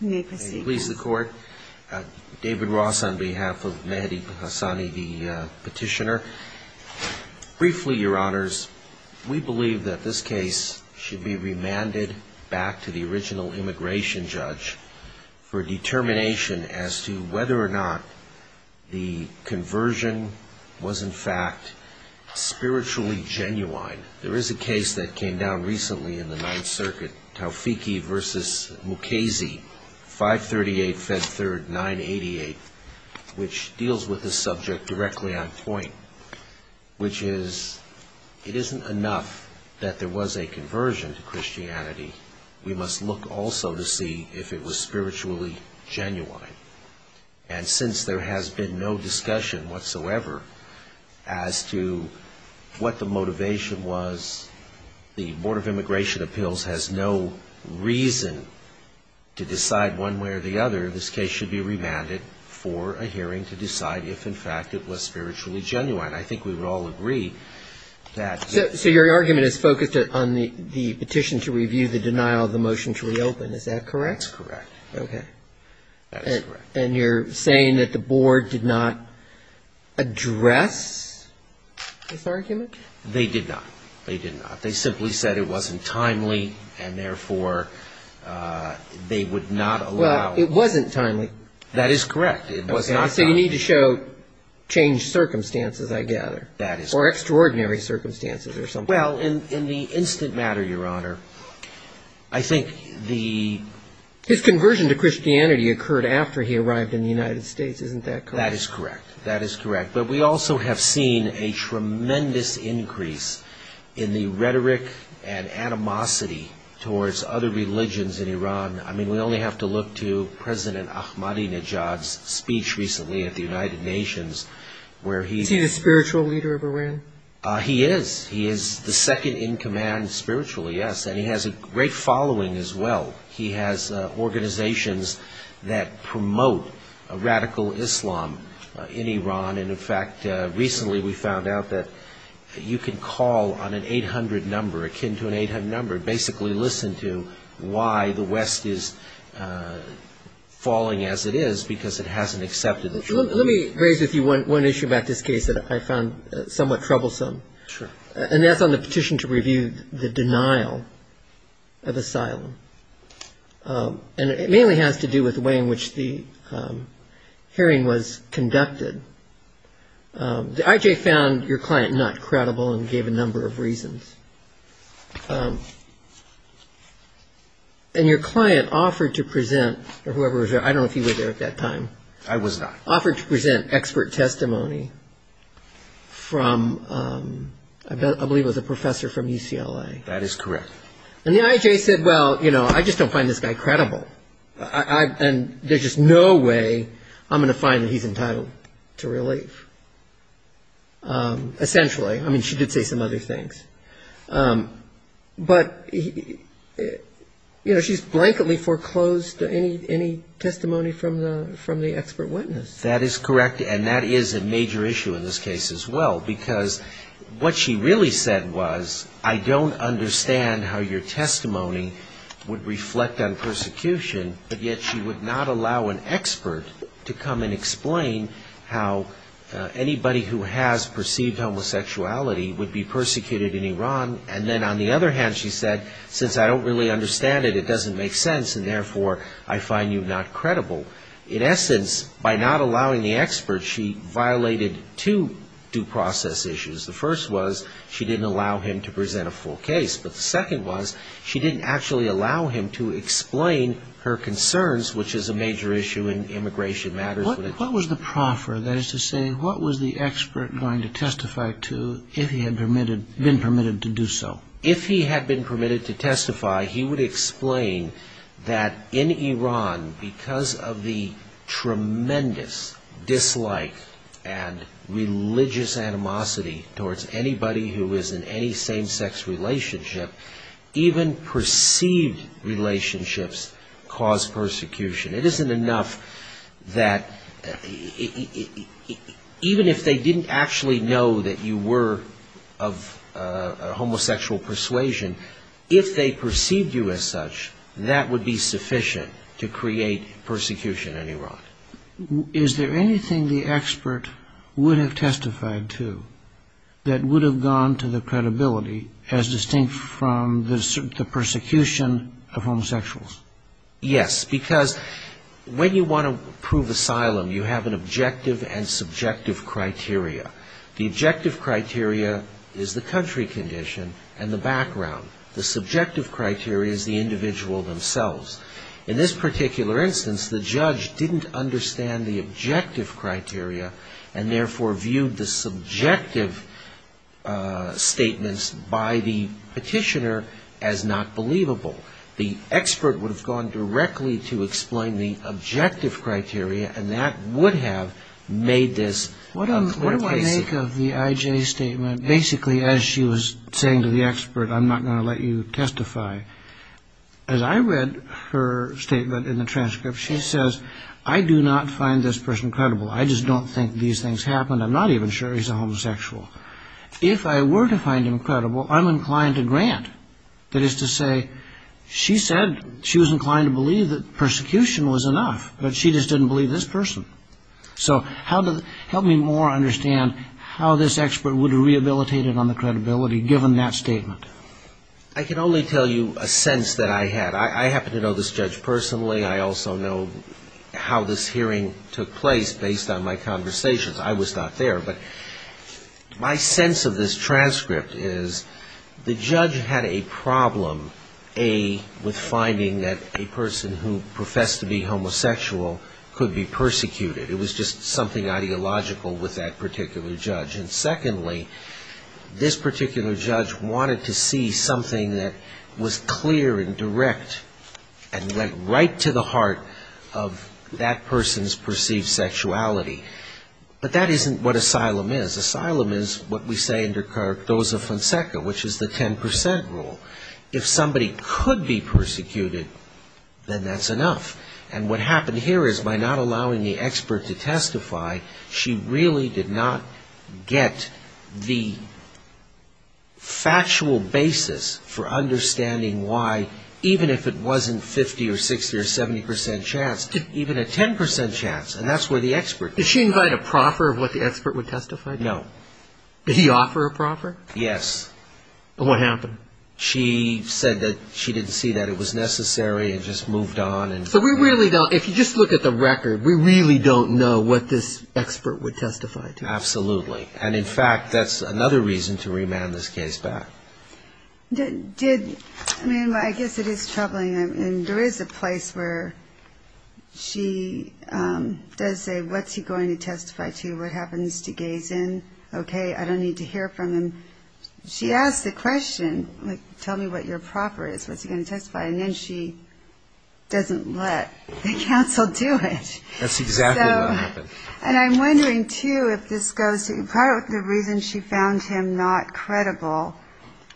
May it please the court, David Ross on behalf of Mehdi Hassani, the petitioner. Briefly, your honors, we believe that this case should be remanded back to the original immigration judge for determination as to whether or not the conversion was in fact spiritually genuine. There is a case that came down recently in the Ninth Circuit, Taufiqi v. Mukasey, 538 Fed 3rd 988, which deals with the subject directly on point, which is it isn't enough that there was a conversion to Christianity, we must look also to see if it was spiritually genuine. And since there has been no discussion whatsoever as to what the motivation was, the Board of Immigration Appeals has no reason to decide one way or the other, this case should be remanded for a hearing to decide if in fact it was spiritually genuine. I think we would all agree that yes. So your argument is focused on the petition to review the denial of the motion to reopen, is that correct? That's correct. Okay. And you're saying that the Board did not address this argument? They did not. They did not. They simply said it wasn't timely, and therefore they would not allow it. Well, it wasn't timely. That is correct. It was not timely. So you need to show changed circumstances, I gather. That is correct. Or extraordinary circumstances or something. Well, in the instant matter, Your Honor, I think the His conversion to Christianity occurred after he arrived in the United States, isn't that correct? That is correct. That is correct. But we also have seen a tremendous increase in the rhetoric and animosity towards other religions in Iran. I mean, we only have to look to President Ahmadinejad's speech recently at the United Nations where he Is he the spiritual leader of Iran? He is. He is the second in command spiritually, yes. And he has a great following as well. He has organizations that promote radical Islam in Iran. And, in fact, recently we found out that you can call on an 800 number, akin to an 800 number, basically listen to why the West is falling as it is, because it hasn't accepted the truth. Let me raise with you one issue about this case that I found somewhat troublesome. Sure. And that's on the petition to review the denial of asylum. And it mainly has to do with the way in which the hearing was conducted. The I.J. found your client not credible and gave a number of reasons. And your client offered to present, or whoever was there, I don't know if you were there at that time. I was not. Offered to present expert testimony from, I believe it was a professor from UCLA. That is correct. And the I.J. said, well, you know, I just don't find this guy credible. And there's just no way I'm going to find that he's entitled to relief, essentially. I mean, she did say some other things. But, you know, she's blankedly foreclosed any testimony from the expert witness. That is correct. And that is a major issue in this case as well, because what she really said was, I don't understand how your testimony would reflect on persecution, but yet she would not allow an expert to come and explain how anybody who has perceived homosexuality would be persecuted in Iran. And then on the other hand, she said, since I don't really understand it, it doesn't make sense, and therefore I find you not credible. In essence, by not allowing the expert, she violated two due process issues. The first was she didn't allow him to present a full case. But the second was she didn't actually allow him to explain her concerns, which is a major issue in immigration matters. What was the proffer, that is to say, what was the expert going to testify to if he had been permitted to do so? If he had been permitted to testify, he would explain that in Iran, because of the tremendous dislike and religious animosity towards anybody who is in any same-sex relationship, even perceived relationships cause persecution. It isn't enough that even if they didn't actually know that you were of homosexual persuasion, if they perceived you as such, that would be sufficient to create persecution in Iran. Is there anything the expert would have testified to that would have gone to the credibility as distinct from the persecution of homosexuals? Yes, because when you want to prove asylum, you have an objective and subjective criteria. The objective criteria is the country condition and the background. The subjective criteria is the individual themselves. In this particular instance, the judge didn't understand the objective criteria, and therefore viewed the subjective statements by the petitioner as not believable. The expert would have gone directly to explain the objective criteria, and that would have made this... What do I make of the I.J. statement? Basically, as she was saying to the expert, I'm not going to let you testify. As I read her statement in the transcript, she says, I do not find this person credible. I just don't think these things happen. I'm not even sure he's a homosexual. If I were to find him credible, I'm inclined to grant. That is to say, she said she was inclined to believe that persecution was enough, but she just didn't believe this person. So help me more understand how this expert would have rehabilitated on the credibility given that statement. I can only tell you a sense that I had. I happen to know this judge personally. I also know how this hearing took place based on my conversations. I was not there, but my sense of this transcript is the judge had a problem, A, with finding that a person who professed to be homosexual could be persecuted. It was just something ideological with that particular judge. And secondly, this particular judge wanted to see something that was clear and direct and went right to the heart of that person's perceived sexuality. But that isn't what asylum is. Asylum is what we say in De Cardoza-Fonseca, which is the 10 percent rule. If somebody could be persecuted, then that's enough. And what happened here is by not allowing the expert to testify, she really did not get the factual basis for understanding why, even if it wasn't 50 or 60 or 70 percent chance, even a 10 percent chance. And that's where the expert came in. Did she invite a proffer of what the expert would testify to? No. Did he offer a proffer? Yes. And what happened? She said that she didn't see that it was necessary and just moved on. So we really don't, if you just look at the record, we really don't know what this expert would testify to. Absolutely. And, in fact, that's another reason to remand this case back. I mean, I guess it is troubling. There is a place where she does say, what's he going to testify to, what happens to gaze in? Okay, I don't need to hear from him. She asked the question, like, tell me what your proffer is, what's he going to testify, and then she doesn't let the counsel do it. That's exactly what happened. And I'm wondering, too, if this goes to, part of the reason she found him not credible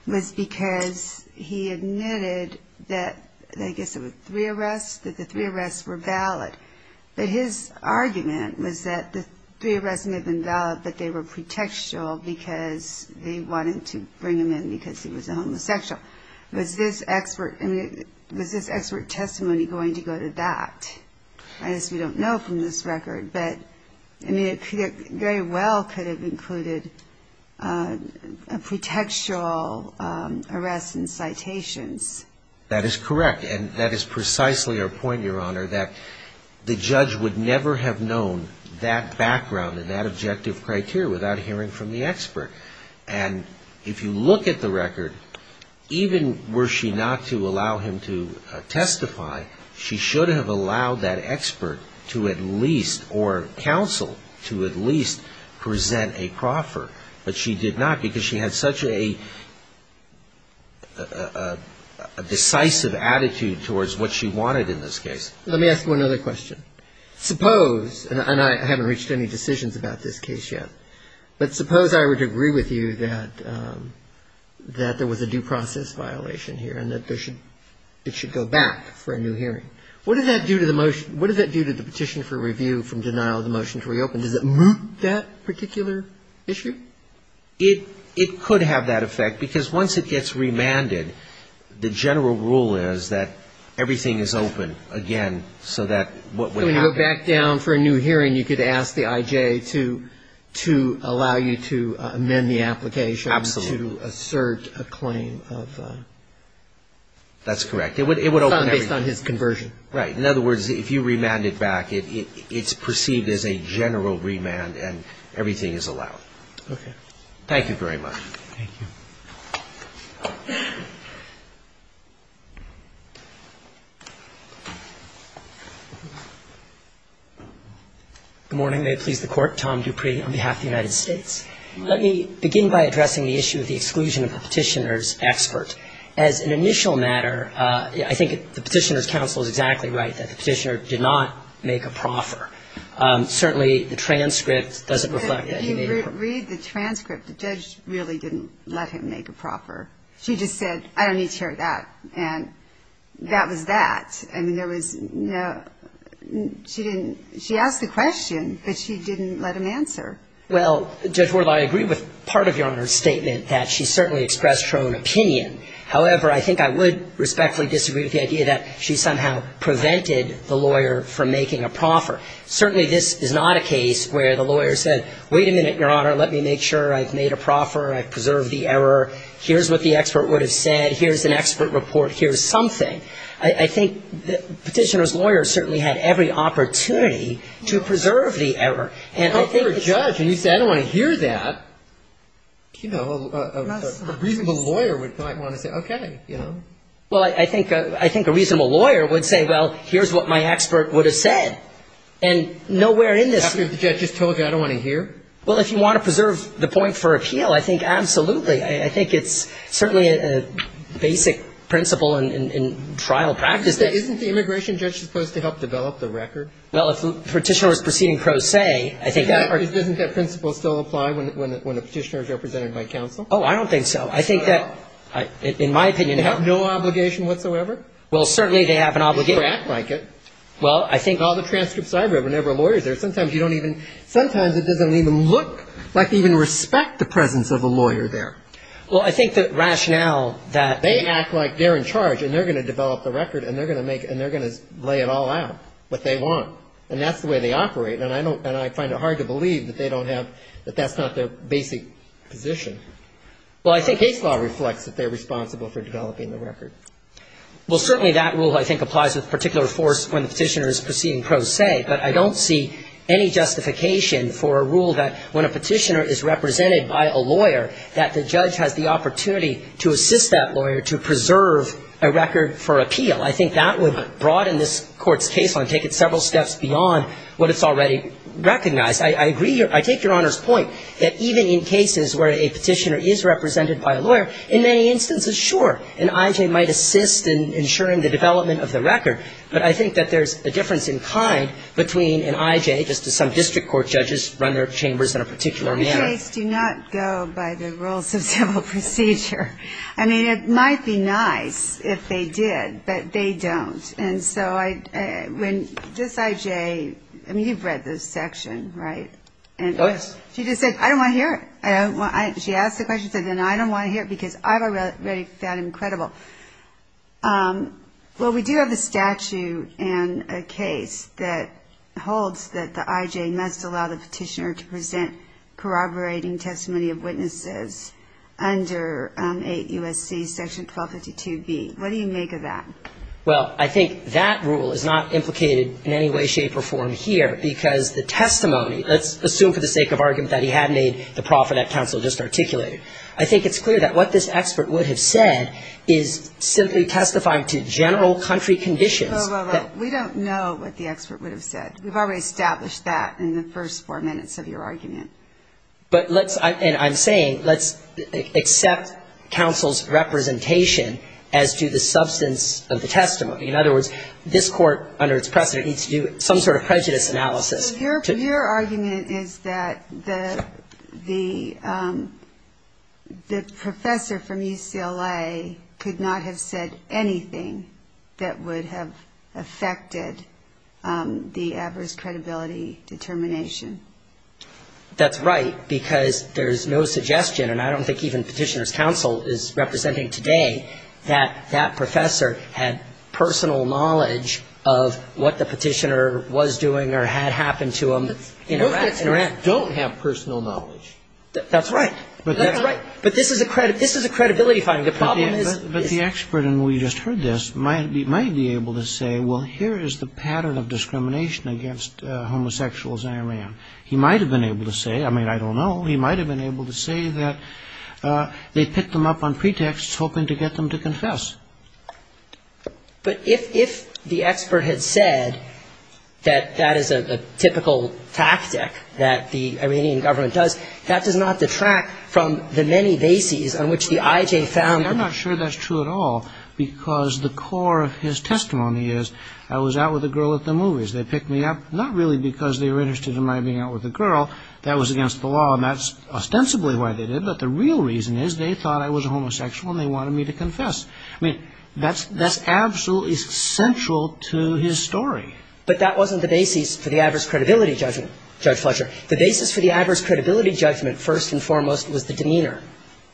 was because he admitted that, I guess it was three arrests, that the three arrests were valid. But his argument was that the three arrests may have been valid, but they were pretextual because they wanted to bring him in because he was a homosexual. Was this expert testimony going to go to that? I guess we don't know from this record, but, I mean, it very well could have included a pretextual arrest and citations. That is correct. And that is precisely our point, Your Honor, that the judge would never have known that background and that objective criteria without hearing from the expert. And if you look at the record, even were she not to allow him to testify, she should have allowed that expert to at least, or counsel to at least present a proffer. But she did not because she had such a decisive attitude towards what she wanted in this case. Let me ask one other question. Suppose, and I haven't reached any decisions about this case yet, but suppose I were to agree with you that there was a due process violation here and that it should go back for a new hearing. What does that do to the petition for review from denial of the motion to reopen? Does it move that particular issue? It could have that effect because once it gets remanded, the general rule is that everything is open again so that what would happen So when you go back down for a new hearing, you could ask the I.J. to allow you to amend the application to assert a claim based on his conversion. Right. In other words, if you remand it back, it's perceived as a general remand and everything is allowed. Okay. Thank you very much. Thank you. Good morning. May it please the Court. Tom Dupree on behalf of the United States. Let me begin by addressing the issue of the exclusion of the petitioner's As an initial matter, I think the petitioner's counsel is exactly right that the petitioner did not make a proffer. Certainly, the transcript doesn't reflect that he made a proffer. But if you read the transcript, the judge really didn't let him make a proffer. She just said, I don't need to hear that. And that was that. I mean, there was no – she didn't – she asked the question, but she didn't let him answer. Well, Judge Wardlaw, I agree with part of Your Honor's statement that she certainly expressed her own opinion. However, I think I would respectfully disagree with the idea that she somehow prevented the lawyer from making a proffer. Certainly, this is not a case where the lawyer said, wait a minute, Your Honor, let me make sure I've made a proffer. I've preserved the error. Here's what the expert would have said. Here's an expert report. I think the petitioner's lawyer certainly had every opportunity to preserve the error. And I think it's – But if you're a judge and you say, I don't want to hear that, you know, a reasonable lawyer might want to say, okay, you know. Well, I think a reasonable lawyer would say, well, here's what my expert would have said. And nowhere in this – After the judge has told you, I don't want to hear? Well, if you want to preserve the point for appeal, I think absolutely. I think it's certainly a basic principle in trial practice. Isn't the immigration judge supposed to help develop the record? Well, if the petitioner is proceeding pro se, I think that – Doesn't that principle still apply when a petitioner is represented by counsel? Oh, I don't think so. I think that, in my opinion – They have no obligation whatsoever? Well, certainly they have an obligation. They should act like it. Well, I think – All the transcripts I read whenever a lawyer is there, sometimes you don't even – sometimes it doesn't even look like they even respect the presence of a lawyer there. Well, I think the rationale that – They act like they're in charge and they're going to develop the record and they're going to make – and they're going to lay it all out, what they want. And that's the way they operate. And I don't – and I find it hard to believe that they don't have – that that's not their basic position. Well, I think – Case law reflects that they're responsible for developing the record. Well, certainly that rule, I think, applies with particular force when the petitioner is proceeding pro se. But I don't see any justification for a rule that when a petitioner is represented by a lawyer, that the judge has the opportunity to assist that lawyer to preserve a record for appeal. I think that would broaden this Court's case line, take it several steps beyond what it's already recognized. I agree – I take Your Honor's point that even in cases where a petitioner is represented by a lawyer, in many instances, sure, an IJ might assist in ensuring the development of the record. But I think that there's a difference in kind between an IJ, just as some district court judges run their chambers in a particular manner. IJs do not go by the rules of civil procedure. I mean, it might be nice if they did, but they don't. And so when this IJ – I mean, you've read this section, right? Yes. She just said, I don't want to hear it. She asked the question and said, I don't want to hear it because I've already found it incredible. Well, we do have a statute in a case that holds that the IJ must allow the petitioner to present corroborating testimony of witnesses under 8 U.S.C. Section 1252b. What do you make of that? Well, I think that rule is not implicated in any way, shape, or form here because the testimony – let's assume for the sake of argument that he had made the proffer that counsel just articulated. I think it's clear that what this expert would have said is simply testifying to general country conditions. Well, well, well. We don't know what the expert would have said. We've already established that in the first four minutes of your argument. But let's – and I'm saying let's accept counsel's representation as to the substance of the testimony. In other words, this court under its precedent needs to do some sort of prejudice analysis. Your argument is that the professor from UCLA could not have said anything that would have affected the adverse credibility determination. That's right, because there's no suggestion, and I don't think even Petitioner's counsel is representing today, that that professor had personal knowledge of what the petitioner was doing or had happen to him in Iran. But most petitioners don't have personal knowledge. That's right. That's right. But this is a credibility finding. But the expert, and we just heard this, might be able to say, well, here is the pattern of discrimination against homosexuals in Iran. He might have been able to say, I mean, I don't know, he might have been able to say that they picked them up on pretext hoping to get them to confess. But if the expert had said that that is a typical tactic that the Iranian government does, that does not detract from the many bases on which the IJ found them. I'm not sure that's true at all, because the core of his testimony is, I was out with a girl at the movies. They picked me up not really because they were interested in my being out with a girl. That was against the law, and that's ostensibly why they did it. But the real reason is they thought I was a homosexual, and they wanted me to confess. I mean, that's absolutely central to his story. But that wasn't the basis for the adverse credibility judgment, Judge Fletcher. The basis for the adverse credibility judgment, first and foremost, was the demeanor,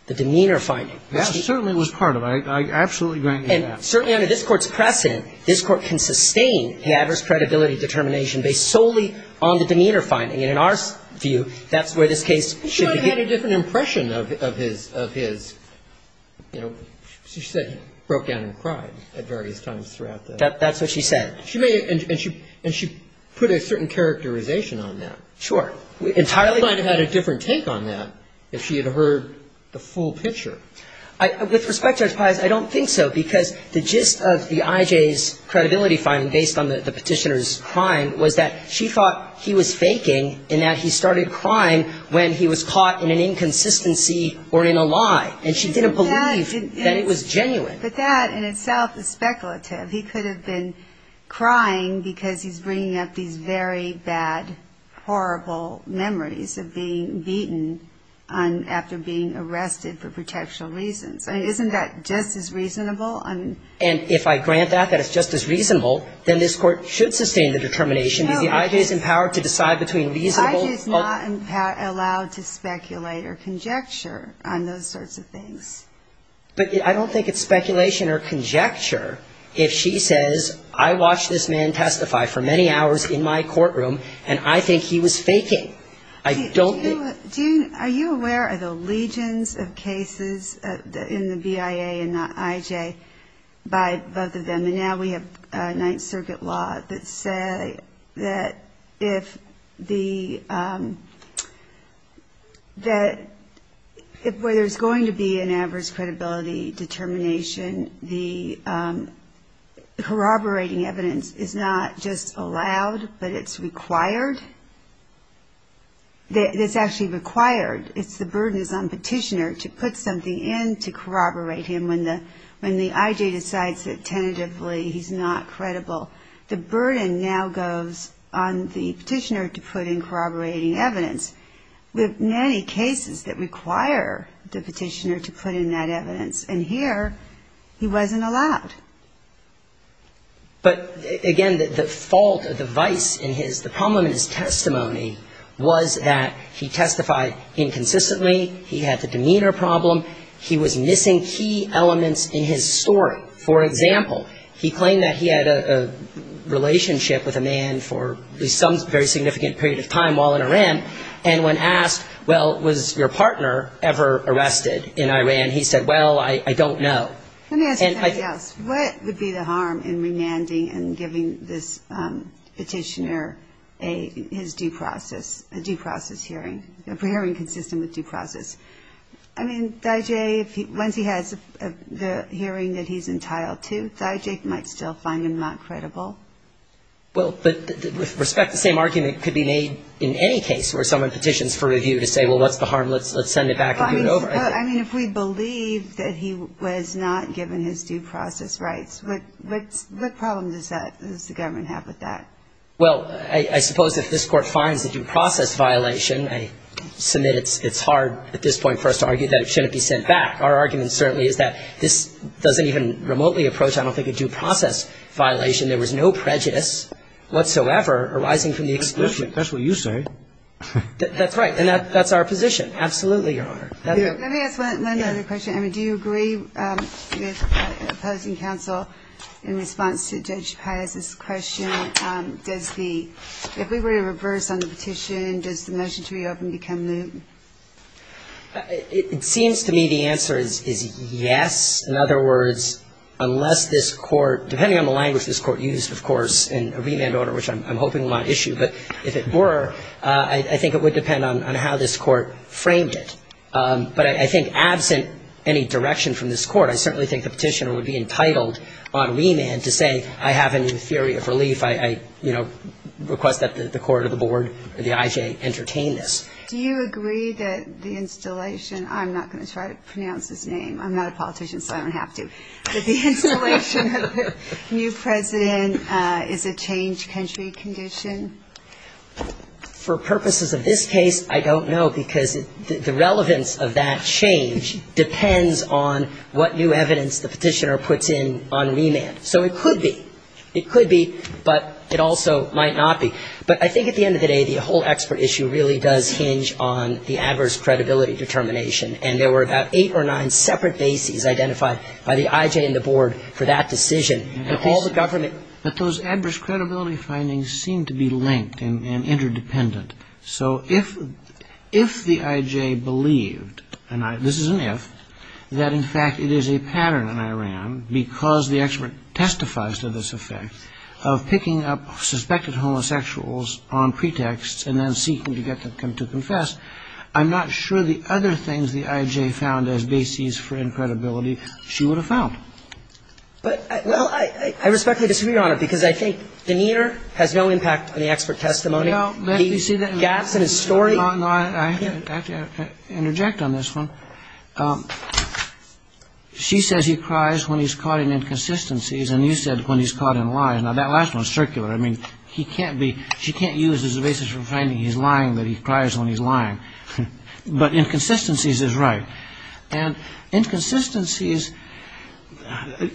the demeanor finding. But she was part of it. I absolutely grant you that. And certainly under this Court's precedent, this Court can sustain the adverse credibility determination based solely on the demeanor finding. And in our view, that's where this case should be. But she might have had a different impression of his, you know, she said he broke down and cried at various times throughout the trial. That's what she said. And she put a certain characterization on that. Sure. Entirely different. She might have had a different take on that if she had heard the full picture. With respect, Judge Pius, I don't think so. Because the gist of the IJ's credibility finding based on the Petitioner's crime was that she thought he was faking and that he started crying when he was caught in an inconsistency or in a lie. And she didn't believe that it was genuine. But that in itself is speculative. He could have been crying because he's bringing up these very bad, horrible memories of being beaten after being arrested for protection reasons. I mean, isn't that just as reasonable? And if I grant that, that it's just as reasonable, then this Court should sustain the determination. The IJ is empowered to decide between reasonable. The IJ is not allowed to speculate or conjecture on those sorts of things. But I don't think it's speculation or conjecture if she says, I watched this man testify for many hours in my courtroom, and I think he was faking. I don't think. Are you aware of the legions of cases in the BIA and the IJ by both of them? And now we have Ninth Circuit law that say that if the – that where there's going to be an average credibility determination, the corroborating evidence is not just allowed, but it's required. It's actually required. It's the burden that's on petitioner to put something in to corroborate him when the IJ decides that tentatively he's not credible. The burden now goes on the petitioner to put in corroborating evidence. We have many cases that require the petitioner to put in that evidence, and here he wasn't allowed. But, again, the fault of the vice in his – the problem in his testimony was that he testified inconsistently, he had the demeanor problem, he was missing key elements in his story. For example, he claimed that he had a relationship with a man for at least significant period of time while in Iran, and when asked, well, was your partner ever arrested in Iran, he said, well, I don't know. Let me ask you something else. What would be the harm in remanding and giving this petitioner his due process, a due process hearing, a hearing consistent with due process? I mean, the IJ, once he has the hearing that he's entitled to, the IJ might still find him not credible. Well, but with respect, the same argument could be made in any case where someone petitions for review to say, well, what's the harm? Let's send it back and do it over. I mean, if we believe that he was not given his due process rights, what problem does that – does the government have with that? Well, I suppose if this Court finds a due process violation, I submit it's hard at this point for us to argue that it shouldn't be sent back. Our argument certainly is that this doesn't even remotely approach, I don't think, a due process violation. There was no prejudice whatsoever arising from the exclusion. That's what you say. That's right. And that's our position. Absolutely, Your Honor. Let me ask one other question. I mean, do you agree with opposing counsel in response to Judge Pius' question? Does the – if we were to reverse on the petition, does the motion to reopen become new? It seems to me the answer is yes. In other words, unless this Court – depending on the language this Court used, of course, in a remand order, which I'm hoping will not issue, but if it were, I think it would depend on how this Court framed it. But I think absent any direction from this Court, I certainly think the petitioner would be entitled on remand to say, I have a new theory of relief. I, you know, request that the court or the board or the IJ entertain this. Do you agree that the installation – I'm not going to try to pronounce his name. I'm not a politician, so I don't have to – that the installation of a new president is a change country condition? For purposes of this case, I don't know, because the relevance of that change depends on what new evidence the petitioner puts in on remand. So it could be. It could be, but it also might not be. But I think at the end of the day, the whole expert issue really does hinge on the adverse credibility determination. And there were about eight or nine separate bases identified by the IJ and the board for that decision. And all the government – But those adverse credibility findings seem to be linked and interdependent. So if the IJ believed – and this is an if – that in fact it is a pattern in Iran, because the expert testifies to this effect, of picking up suspected homosexuals on pretexts and then seeking to get them to confess, I'm not sure the other things the IJ found as bases for incredibility she would have found. But – well, I respectfully disagree, Your Honor, because I think demeanor has no impact on the expert testimony. No, but you see that – The gaps in his story – No, no. I have to interject on this one. She says he cries when he's caught in inconsistencies, and you said when he's caught in lies. Now, that last one is circular. I mean, he can't be – she can't use it as a basis for finding he's lying, that he cries when he's lying. But inconsistencies is right. And inconsistencies –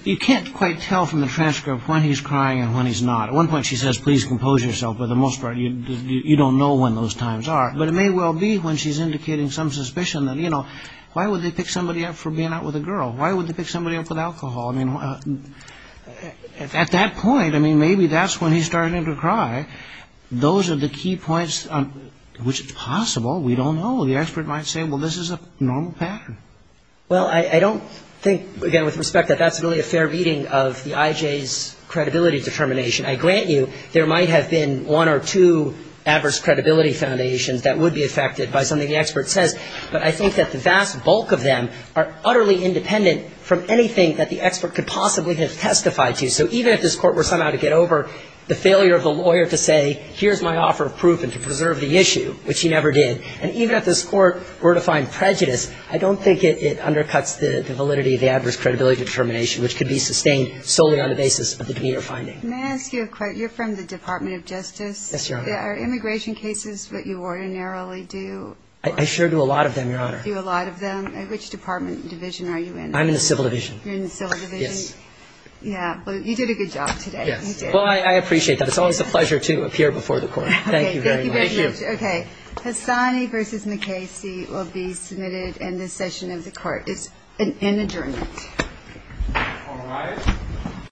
you can't quite tell from the transcript when he's crying and when he's not. At one point she says, please compose yourself, but for the most part you don't know when those times are. But it may well be when she's indicating some suspicion that, you know, why would they pick somebody up for being out with a girl? Why would they pick somebody up with alcohol? I mean, at that point, I mean, maybe that's when he's starting to cry. Those are the key points, which is possible. We don't know. The expert might say, well, this is a normal pattern. Well, I don't think, again, with respect, that that's really a fair reading of the IJ's credibility determination. I grant you there might have been one or two adverse credibility foundations that would be affected by something the expert says. But I think that the vast bulk of them are utterly independent from anything that the expert could possibly have testified to. So even if this Court were somehow to get over the failure of the lawyer to say, here's my offer of proof and to preserve the issue, which he never did, and even if this Court were to find prejudice, I don't think it undercuts the validity of the adverse credibility determination, which could be sustained solely on the basis of the demeanor finding. May I ask you a question? You're from the Department of Justice. Yes, Your Honor. Are immigration cases what you ordinarily do? I sure do a lot of them, Your Honor. You do a lot of them. Which department and division are you in? I'm in the Civil Division. You're in the Civil Division? Yes. Yeah. But you did a good job today. Yes. Well, I appreciate that. It's always a pleasure to appear before the Court. Thank you very much. Thank you. Okay. Hassani v. McKay C will be submitted in this session of the Court. It's an adjournment. All right.